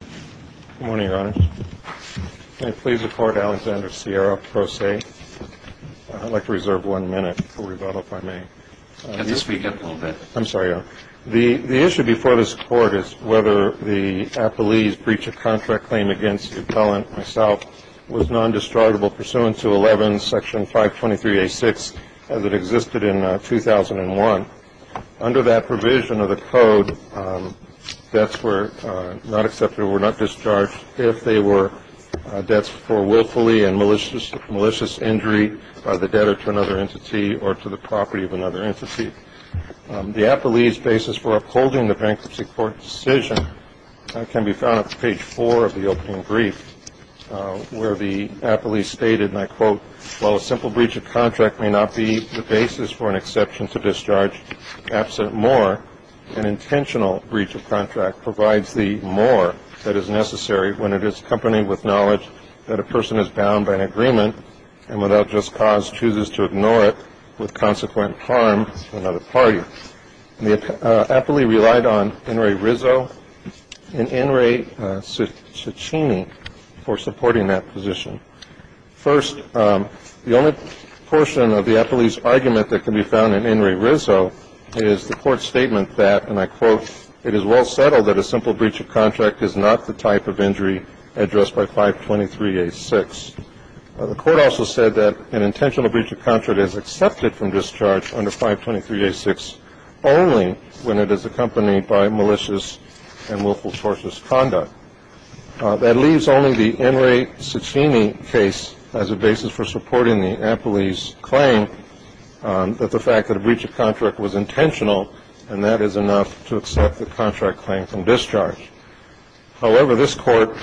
Good morning, Your Honor. May it please the Court, Alexander Sierra, pro se. I'd like to reserve one minute for rebuttal, if I may. Can you speak up a little bit? I'm sorry, Your Honor. The issue before this Court is whether the appellee's breach of contract claim against the appellant, myself, was nondestructible pursuant to 11, section 523A6, as it existed in 2001. Under that provision of the Code, debts were not accepted or were not discharged if they were debts for willfully and malicious injury by the debtor to another entity or to the property of another entity. The appellee's basis for upholding the bankruptcy court's decision can be found on page 4 of the opening brief, where the appellee stated, and I quote, while a simple breach of contract may not be the basis for an exception to discharge, absent more, an intentional breach of contract provides the more that is necessary when it is accompanied with knowledge that a person is bound by an agreement and without just cause chooses to ignore it with consequent harm to another party. The appellee relied on In re Rizzo and In re Ciccini for supporting that position. First, the only portion of the appellee's argument that can be found in In re Rizzo is the Court's statement that, and I quote, it is well settled that a simple breach of contract is not the type of injury addressed by 523A6. The Court also said that an intentional breach of contract is accepted from discharge under 523A6 only when it is accompanied by malicious and willful tortious conduct. That leaves only the In re Ciccini case as a basis for supporting the appellee's claim that the fact that a breach of contract was intentional and that is enough to accept the contract claim from discharge. However, this Court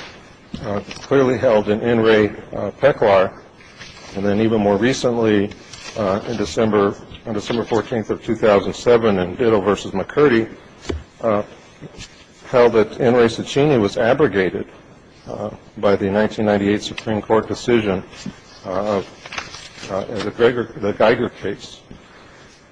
clearly held that In re Peclar, and then even more recently in December, on December 14th of 2007 in Ditto v. McCurdy, held that In re Ciccini was abrogated by the 1998 Supreme Court decision of the Geiger case.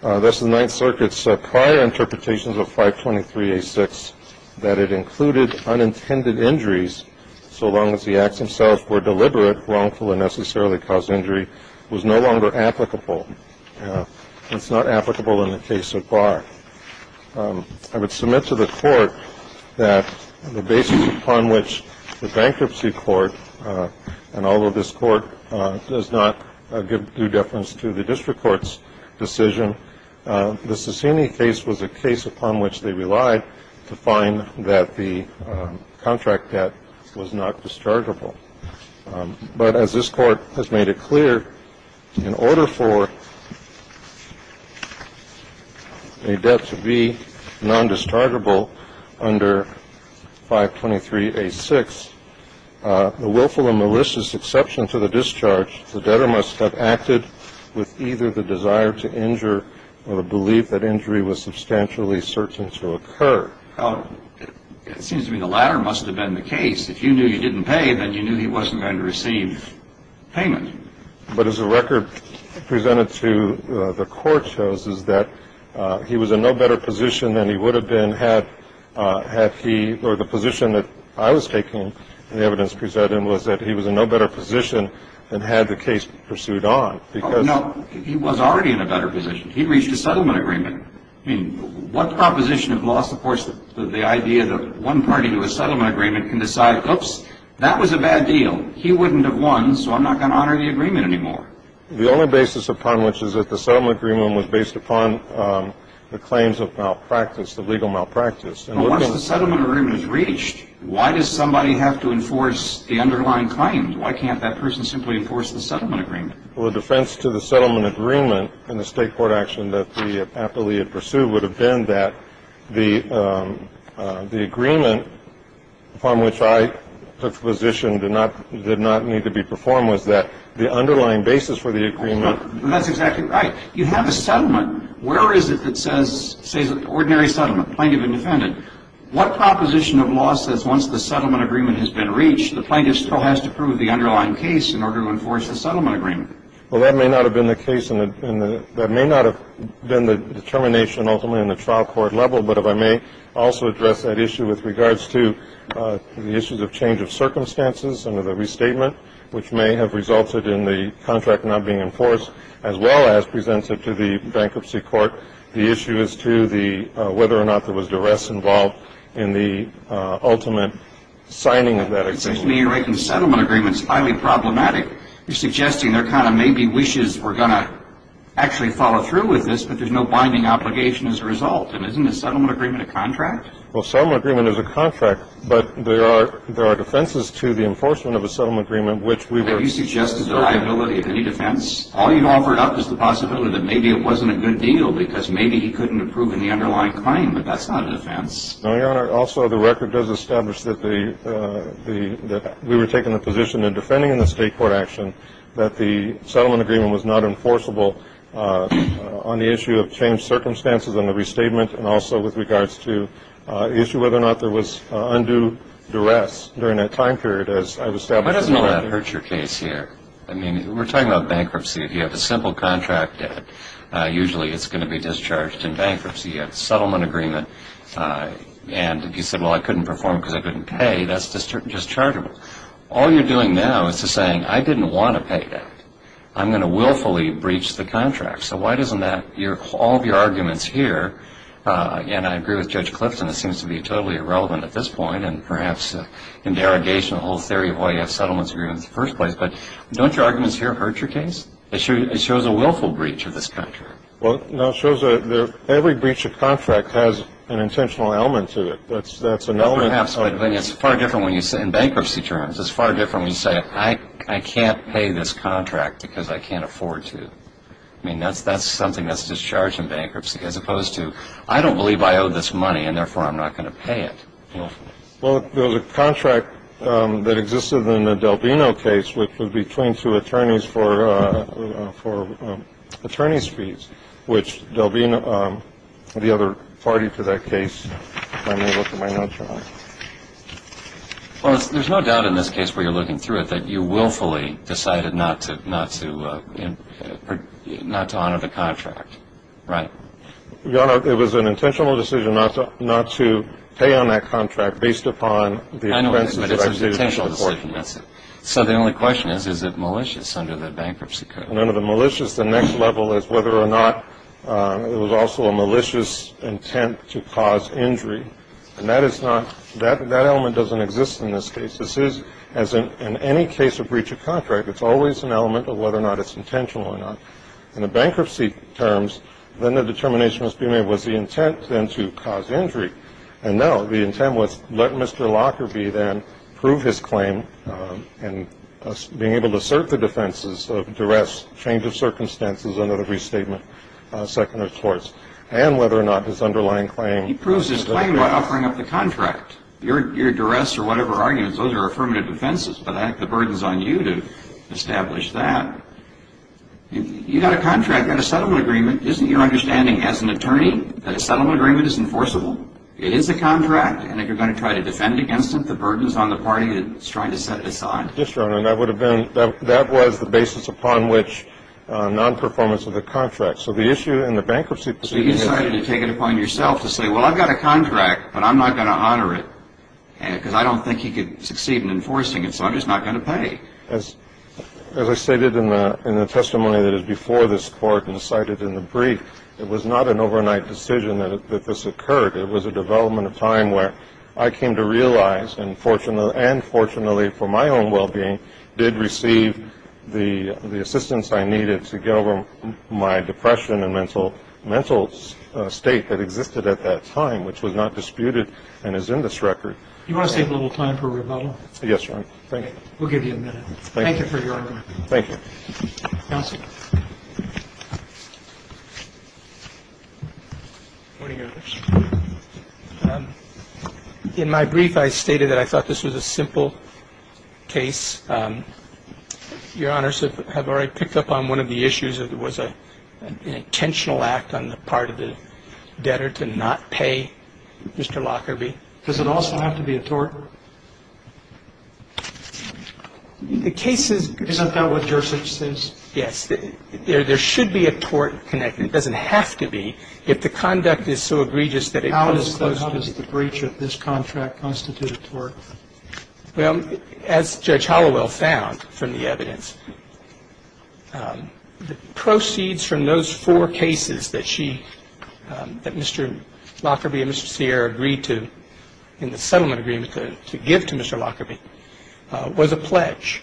That's the Ninth Circuit's prior interpretations of 523A6, that it included unintended injuries so long as the acts themselves were deliberate, wrongful, and necessarily caused injury, was no longer applicable. It's not applicable in the case so far. I would submit to the Court that the basis upon which the Bankruptcy Court, and although this Court does not give due deference to the district court's decision, the Ciccini case was a case upon which they relied to find that the contract debt was not dischargeable. But as this Court has made it clear, in order for a debt to be non-dischargeable under 523A6, the willful and malicious exception to the discharge, the debtor must have acted with either the desire to injure or the belief that injury was substantially certain to occur. Well, it seems to me the latter must have been the case. If you knew you didn't pay, then you knew he wasn't going to receive payment. But as the record presented to the Court shows, is that he was in no better position than he would have been had he, or the position that I was taking and the evidence presented was that he was in no better position than had the case pursued on. Oh, no. He was already in a better position. He reached a settlement agreement. I mean, what proposition of law supports the idea that one party to a settlement agreement can decide, oops, that was a bad deal. He wouldn't have won, so I'm not going to honor the agreement anymore. The only basis upon which is that the settlement agreement was based upon the claims of malpractice, the legal malpractice. Well, once the settlement agreement is reached, why does somebody have to enforce the underlying claims? Why can't that person simply enforce the settlement agreement? Well, the defense to the settlement agreement in the State Court action that the appellee had pursued would have been that the agreement upon which I took the position did not need to be performed was that the underlying basis for the agreement. Well, that's exactly right. You have a settlement. Where is it that says ordinary settlement, plaintiff and defendant? What proposition of law says once the settlement agreement has been reached, the plaintiff still has to prove the underlying case in order to enforce the settlement agreement? Well, that may not have been the case, and that may not have been the determination ultimately in the trial court level. But if I may also address that issue with regards to the issues of change of circumstances under the restatement, which may have resulted in the contract not being enforced, as well as presents it to the bankruptcy court, the issue is to the whether or not there was duress involved in the ultimate signing of that agreement. Well, it seems to me you're making the settlement agreement highly problematic. You're suggesting there kind of may be wishes we're going to actually follow through with this, but there's no binding obligation as a result. And isn't a settlement agreement a contract? Well, a settlement agreement is a contract, but there are defenses to the enforcement of a settlement agreement, which we would So you suggest there's a liability of any defense? All you've offered up is the possibility that maybe it wasn't a good deal because maybe he couldn't have proven the underlying claim, but that's not a defense. No, Your Honor. Also, the record does establish that we were taking the position in defending the state court action that the settlement agreement was not enforceable on the issue of changed circumstances under the restatement and also with regards to the issue of whether or not there was undue duress during that time period as I've established in the record. Why doesn't all that hurt your case here? I mean, we're talking about bankruptcy. If you have a simple contract, usually it's going to be discharged in bankruptcy. You have a settlement agreement, and if you said, well, I couldn't perform because I couldn't pay, that's dischargeable. All you're doing now is just saying, I didn't want to pay that. I'm going to willfully breach the contract. So why doesn't that, all of your arguments here, and I agree with Judge Clifton, it seems to be totally irrelevant at this point and perhaps an interrogation of the whole theory of why you have settlements agreements in the first place, but don't your arguments here hurt your case? It shows a willful breach of this contract. Well, no, it shows that every breach of contract has an intentional element to it. That's an element. Well, perhaps, but it's far different in bankruptcy terms. It's far different when you say, I can't pay this contract because I can't afford to. I mean, that's something that's discharged in bankruptcy as opposed to, I don't believe I owe this money, and therefore I'm not going to pay it willfully. Well, there was a contract that existed in the Delvino case, which was between two attorneys for attorneys' fees, which Delvino, the other party to that case, I may or may not know. Well, there's no doubt in this case where you're looking through it that you willfully decided not to honor the contract, right? Well, it was an intentional decision not to pay on that contract based upon the expenses that I stated before. I know, but it's an intentional decision. So the only question is, is it malicious under the bankruptcy code? Remember, the malicious, the next level is whether or not it was also a malicious intent to cause injury. And that is not, that element doesn't exist in this case. This is, as in any case of breach of contract, it's always an element of whether or not it's intentional or not. In the bankruptcy terms, then the determination must be made, was the intent then to cause injury? And no, the intent was, let Mr. Lockerbie then prove his claim and being able to assert the defenses of duress, change of circumstances, another restatement, second of torts, and whether or not his underlying claim. He proves his claim by offering up the contract. Your duress or whatever arguments, those are affirmative defenses, but the burden's on you to establish that. You've got a contract, you've got a settlement agreement. Isn't your understanding as an attorney that a settlement agreement is enforceable? It is a contract, and if you're going to try to defend it against it, the burden's on the party that's trying to set it aside. Yes, Your Honor, and that would have been, that was the basis upon which non-performance of the contract. So the issue in the bankruptcy procedure is. So you decided to take it upon yourself to say, well, I've got a contract, but I'm not going to honor it because I don't think he could succeed in enforcing it, so I'm just not going to pay. As I stated in the testimony that is before this Court and cited in the brief, it was not an overnight decision that this occurred. It was a development of time where I came to realize, and fortunately for my own well-being, did receive the assistance I needed to get over my depression and mental state that existed at that time, which was not disputed and is in this record. Do you want to save a little time for rebuttal? Yes, Your Honor. Thank you. We'll give you a minute. Thank you for your argument. Thank you. Counsel. In my brief, I stated that I thought this was a simple case. Your Honors have already picked up on one of the issues, that it was an intentional act on the part of the debtor to not pay Mr. Lockerbie. It was an intentional act on the part of the debtor to not pay Mr. Lockerbie. It was an intentional act on the part of the debtor to not pay Mr. Lockerbie. Does it also have to be a tort? The case is going to be. Isn't that what Jersich says? Yes. There should be a tort connected. It doesn't have to be. If the conduct is so egregious that it comes close to it. How does the breach of this contract constitute a tort? Well, as Judge Hollowell found from the evidence, the proceeds from those four cases that she, that Mr. Lockerbie and Mr. Sierra agreed to in the settlement agreement to give to Mr. Lockerbie was a pledge.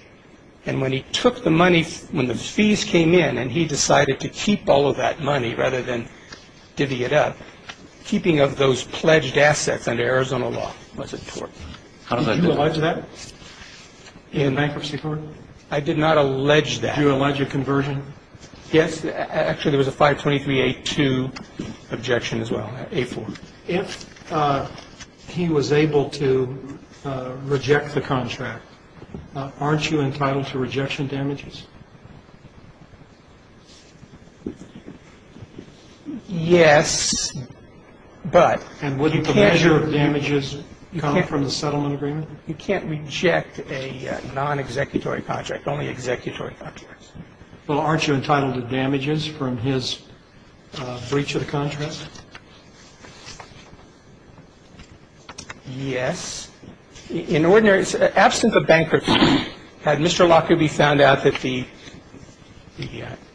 And when he took the money, when the fees came in, and he decided to keep all of that money rather than divvy it up, keeping of those pledged assets under Arizona law was a tort. Did you allege that in bankruptcy court? I did not allege that. Did you allege a conversion? Yes. Actually, there was a 523A2 objection as well, A4. If he was able to reject the contract, aren't you entitled to rejection damages? Yes, but you can't. And wouldn't the measure of damages come from the settlement agreement? You can't reject a non-executory contract, only executory contracts. Well, aren't you entitled to damages from his breach of the contract? Yes. In ordinary, absent of bankruptcy, Had Mr. Lockerbie found out that the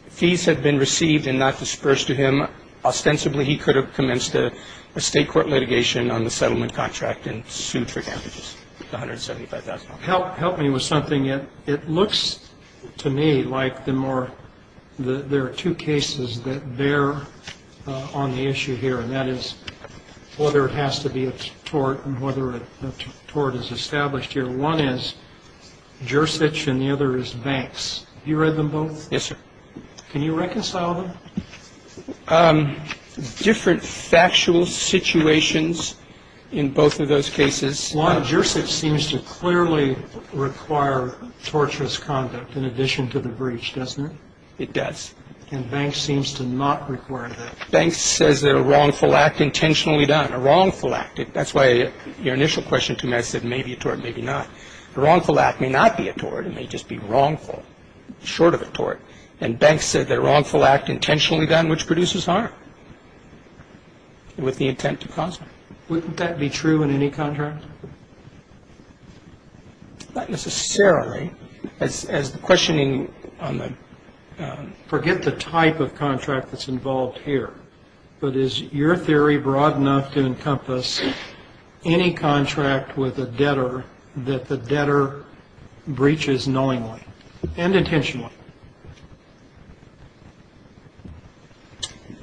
fees had been received and not disbursed to him, ostensibly he could have commenced a state court litigation on the settlement contract and sued for damages, $175,000. Help me with something. It looks to me like there are two cases that bear on the issue here, and that is whether it has to be a tort and whether a tort is established here. The one is Jersich and the other is Banks. Have you read them both? Yes, sir. Can you reconcile them? Different factual situations in both of those cases. Jersich seems to clearly require torturous conduct in addition to the breach, doesn't it? It does. And Banks seems to not require that. Banks says that a wrongful act intentionally done, a wrongful act. That's why your initial question to me, I said maybe a tort, maybe not. A wrongful act may not be a tort. It may just be wrongful, short of a tort. And Banks said that a wrongful act intentionally done, which produces harm with the intent to cause harm. Wouldn't that be true in any contract? Not necessarily. As the question on the forget the type of contract that's involved here, but is your theory broad enough to encompass any contract with a debtor that the debtor breaches knowingly and intentionally?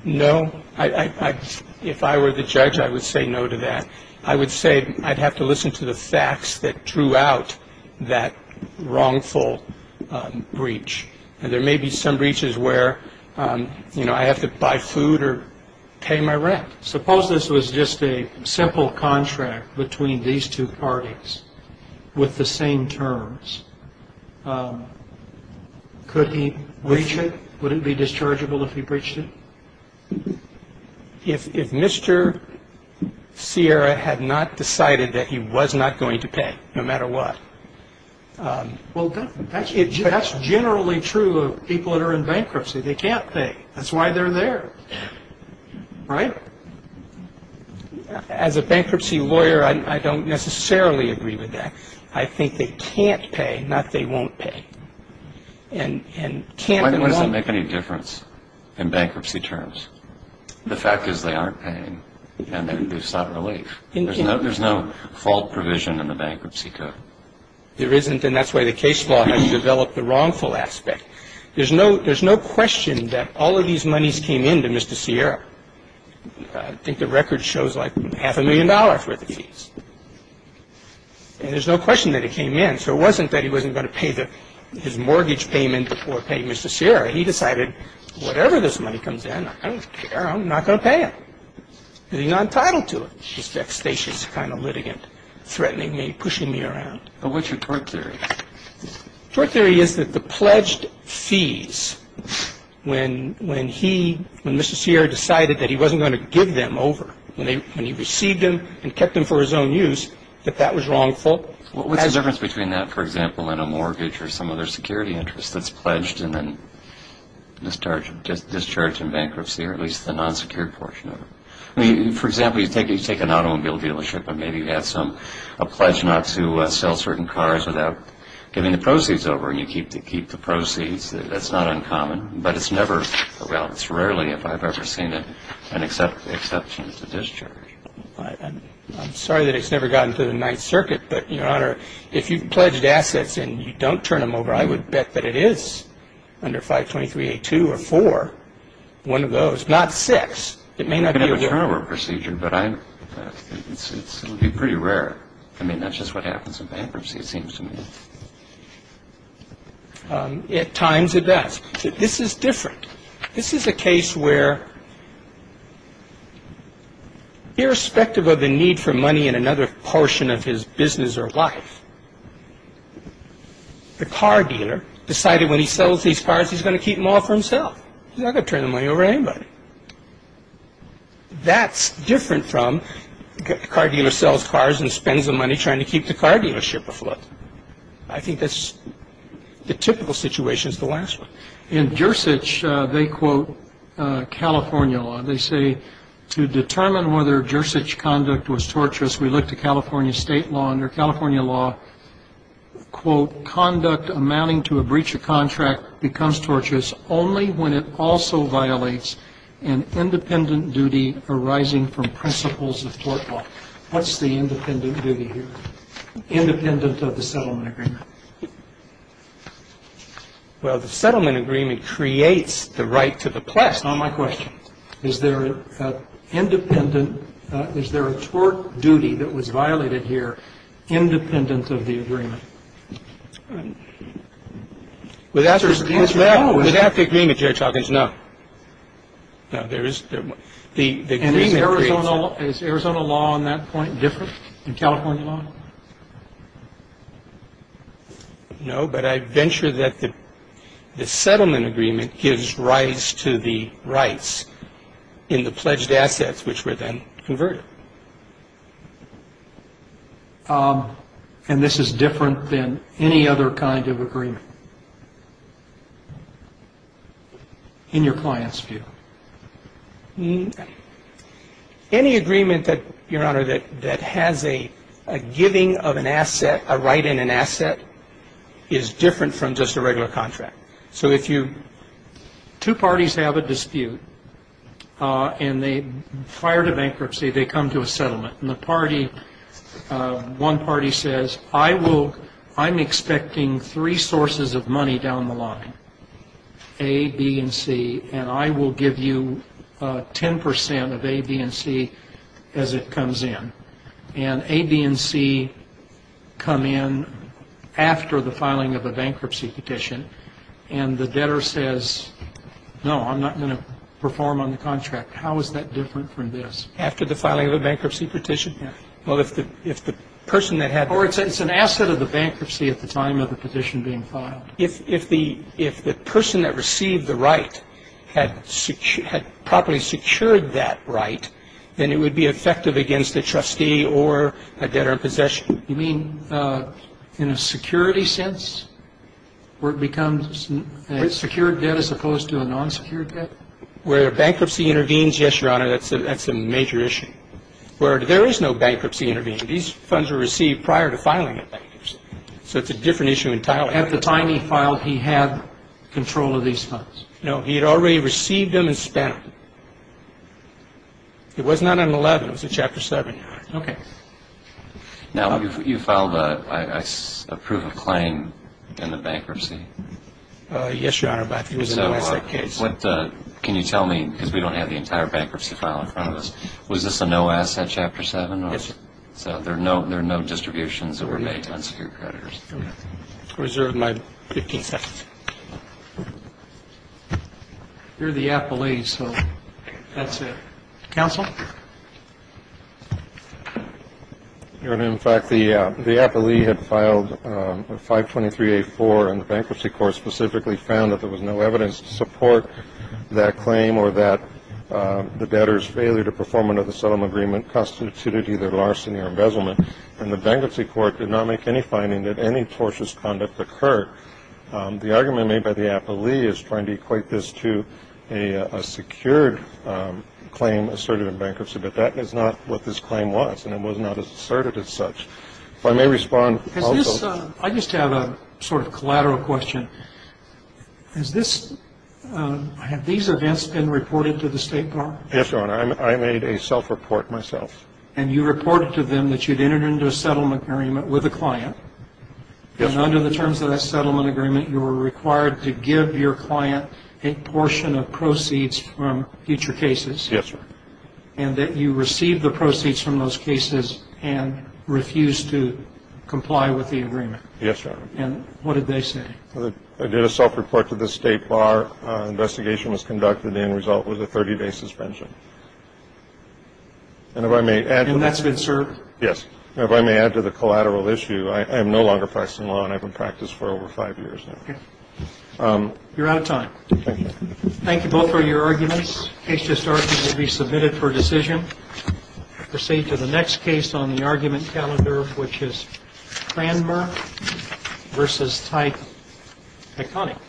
No. If I were the judge, I would say no to that. I would say I'd have to listen to the facts that drew out that wrongful breach. I would say I'd have to listen to the facts that drew out that wrongful breach. And there may be some breaches where, you know, I have to buy food or pay my rent. Suppose this was just a simple contract between these two parties with the same terms. Could he breach it? Would it be dischargeable if he breached it? If Mr. Sierra had not decided that he was not going to pay, no matter what. Well, that's generally true of people that are in bankruptcy. They can't pay. That's why they're there. Right? As a bankruptcy lawyer, I don't necessarily agree with that. I think they can't pay, not they won't pay. And can't and won't pay. Why does it make any difference in bankruptcy terms? The fact is they aren't paying, and there's not relief. There's no fault provision in the bankruptcy code. There isn't, and that's why the case law has developed the wrongful aspect. There's no question that all of these monies came in to Mr. Sierra. And there's no question that it came in. So it wasn't that he wasn't going to pay his mortgage payment or pay Mr. Sierra. He decided, whatever this money comes in, I don't care. I'm not going to pay it because he's not entitled to it. He's a devastatious kind of litigant, threatening me, pushing me around. But what's your court theory? Court theory is that the pledged fees, when he, when Mr. Sierra decided that he wasn't going to give them over, when he received them and kept them for his own use, that that was wrongful? What's the difference between that, for example, and a mortgage or some other security interest that's pledged and then discharged in bankruptcy, or at least the non-secured portion of it? I mean, for example, you take an automobile dealership and maybe you have some, a pledge not to sell certain cars without giving the proceeds over, and you keep the proceeds, that's not uncommon. But it's never, well, it's rarely if I've ever seen it, an exception to discharge. I'm sorry that it's never gotten to the Ninth Circuit, but, Your Honor, if you've pledged assets and you don't turn them over, I would bet that it is under 523A2 or 4, one of those, not 6. It may not be over. You can have a turnover procedure, but it would be pretty rare. I mean, that's just what happens in bankruptcy, it seems to me. At times it does. This is different. This is a case where, irrespective of the need for money in another portion of his business or life, the car dealer decided when he sells these cars he's going to keep them all for himself. He's not going to turn the money over to anybody. That's different from the car dealer sells cars and spends the money trying to keep the car dealership afloat. I think that's the typical situation is the last one. In Gersich, they quote California law. They say to determine whether Gersich conduct was torturous, we look to California state law. Under California law, quote, conduct amounting to a breach of contract becomes torturous only when it also violates an independent duty arising from principles of court law. What's the independent duty here? Independent of the settlement agreement. Well, the settlement agreement creates the right to the place. Not my question. Is there an independent – is there a tort duty that was violated here independent of the agreement? Without the agreement, Judge Hawkins, no. No, there is – the agreement creates it. Well, is Arizona law on that point different than California law? No, but I venture that the settlement agreement gives rise to the rights in the pledged assets which were then converted. And this is different than any other kind of agreement in your client's view? Any agreement that, Your Honor, that has a giving of an asset, a right in an asset, is different from just a regular contract. So if you – two parties have a dispute and they fire the bankruptcy, they come to a settlement. And the party – one party says, I will – I'm expecting three sources of money down the line, A, B, and C, and I will give you 10 percent of A, B, and C as it comes in. And A, B, and C come in after the filing of a bankruptcy petition, and the debtor says, no, I'm not going to perform on the contract. How is that different from this? After the filing of a bankruptcy petition? Well, if the person that had – Or it's an asset of the bankruptcy at the time of the petition being filed. If the person that received the right had properly secured that right, then it would be effective against a trustee or a debtor in possession. You mean in a security sense, where it becomes a secured debt as opposed to a non-secured debt? Where bankruptcy intervenes, yes, Your Honor, that's a major issue. Where there is no bankruptcy intervening, these funds were received prior to filing a bankruptcy. So it's a different issue entirely. At the time he filed, he had control of these funds. No, he had already received them and spent them. It was not on 11, it was on Chapter 7. Okay. Now, you filed a proof of claim in the bankruptcy. Yes, Your Honor, but it was a no-asset case. Can you tell me, because we don't have the entire bankruptcy file in front of us, was this a no-asset Chapter 7? Yes, sir. So there are no distributions that were made to unsecured creditors. Okay. I reserve my 15 seconds. You're the appellee, so that's it. Counsel? Your Honor, in fact, the appellee had filed 523-A-4, and the Bankruptcy Court specifically found that there was no evidence to support that claim or that the debtor's failure to perform under the settlement agreement constituted either larceny or embezzlement. And the Bankruptcy Court did not make any finding that any tortious conduct occurred. The argument made by the appellee is trying to equate this to a secured claim asserted in bankruptcy, but that is not what this claim was, and it was not asserted as such. If I may respond also to this. I just have a sort of collateral question. Has this – have these events been reported to the State Department? Yes, Your Honor. I made a self-report myself. And you reported to them that you'd entered into a settlement agreement with a client. Yes, Your Honor. And under the terms of that settlement agreement, you were required to give your client a portion of proceeds from future cases. Yes, Your Honor. And that you received the proceeds from those cases and refused to comply with the agreement. Yes, Your Honor. And what did they say? I did a self-report to the State Bar. Investigation was conducted, and the end result was a 30-day suspension. And if I may add to that. And that's been served? Yes. And if I may add to the collateral issue, I am no longer practicing law, and I've been practicing law for over five years now. Okay. You're out of time. Thank you. Thank you. Both are your arguments. Case just argued to be submitted for decision. We'll proceed to the next case on the argument calendar, which is Cranmer v. Tyke. McConnick.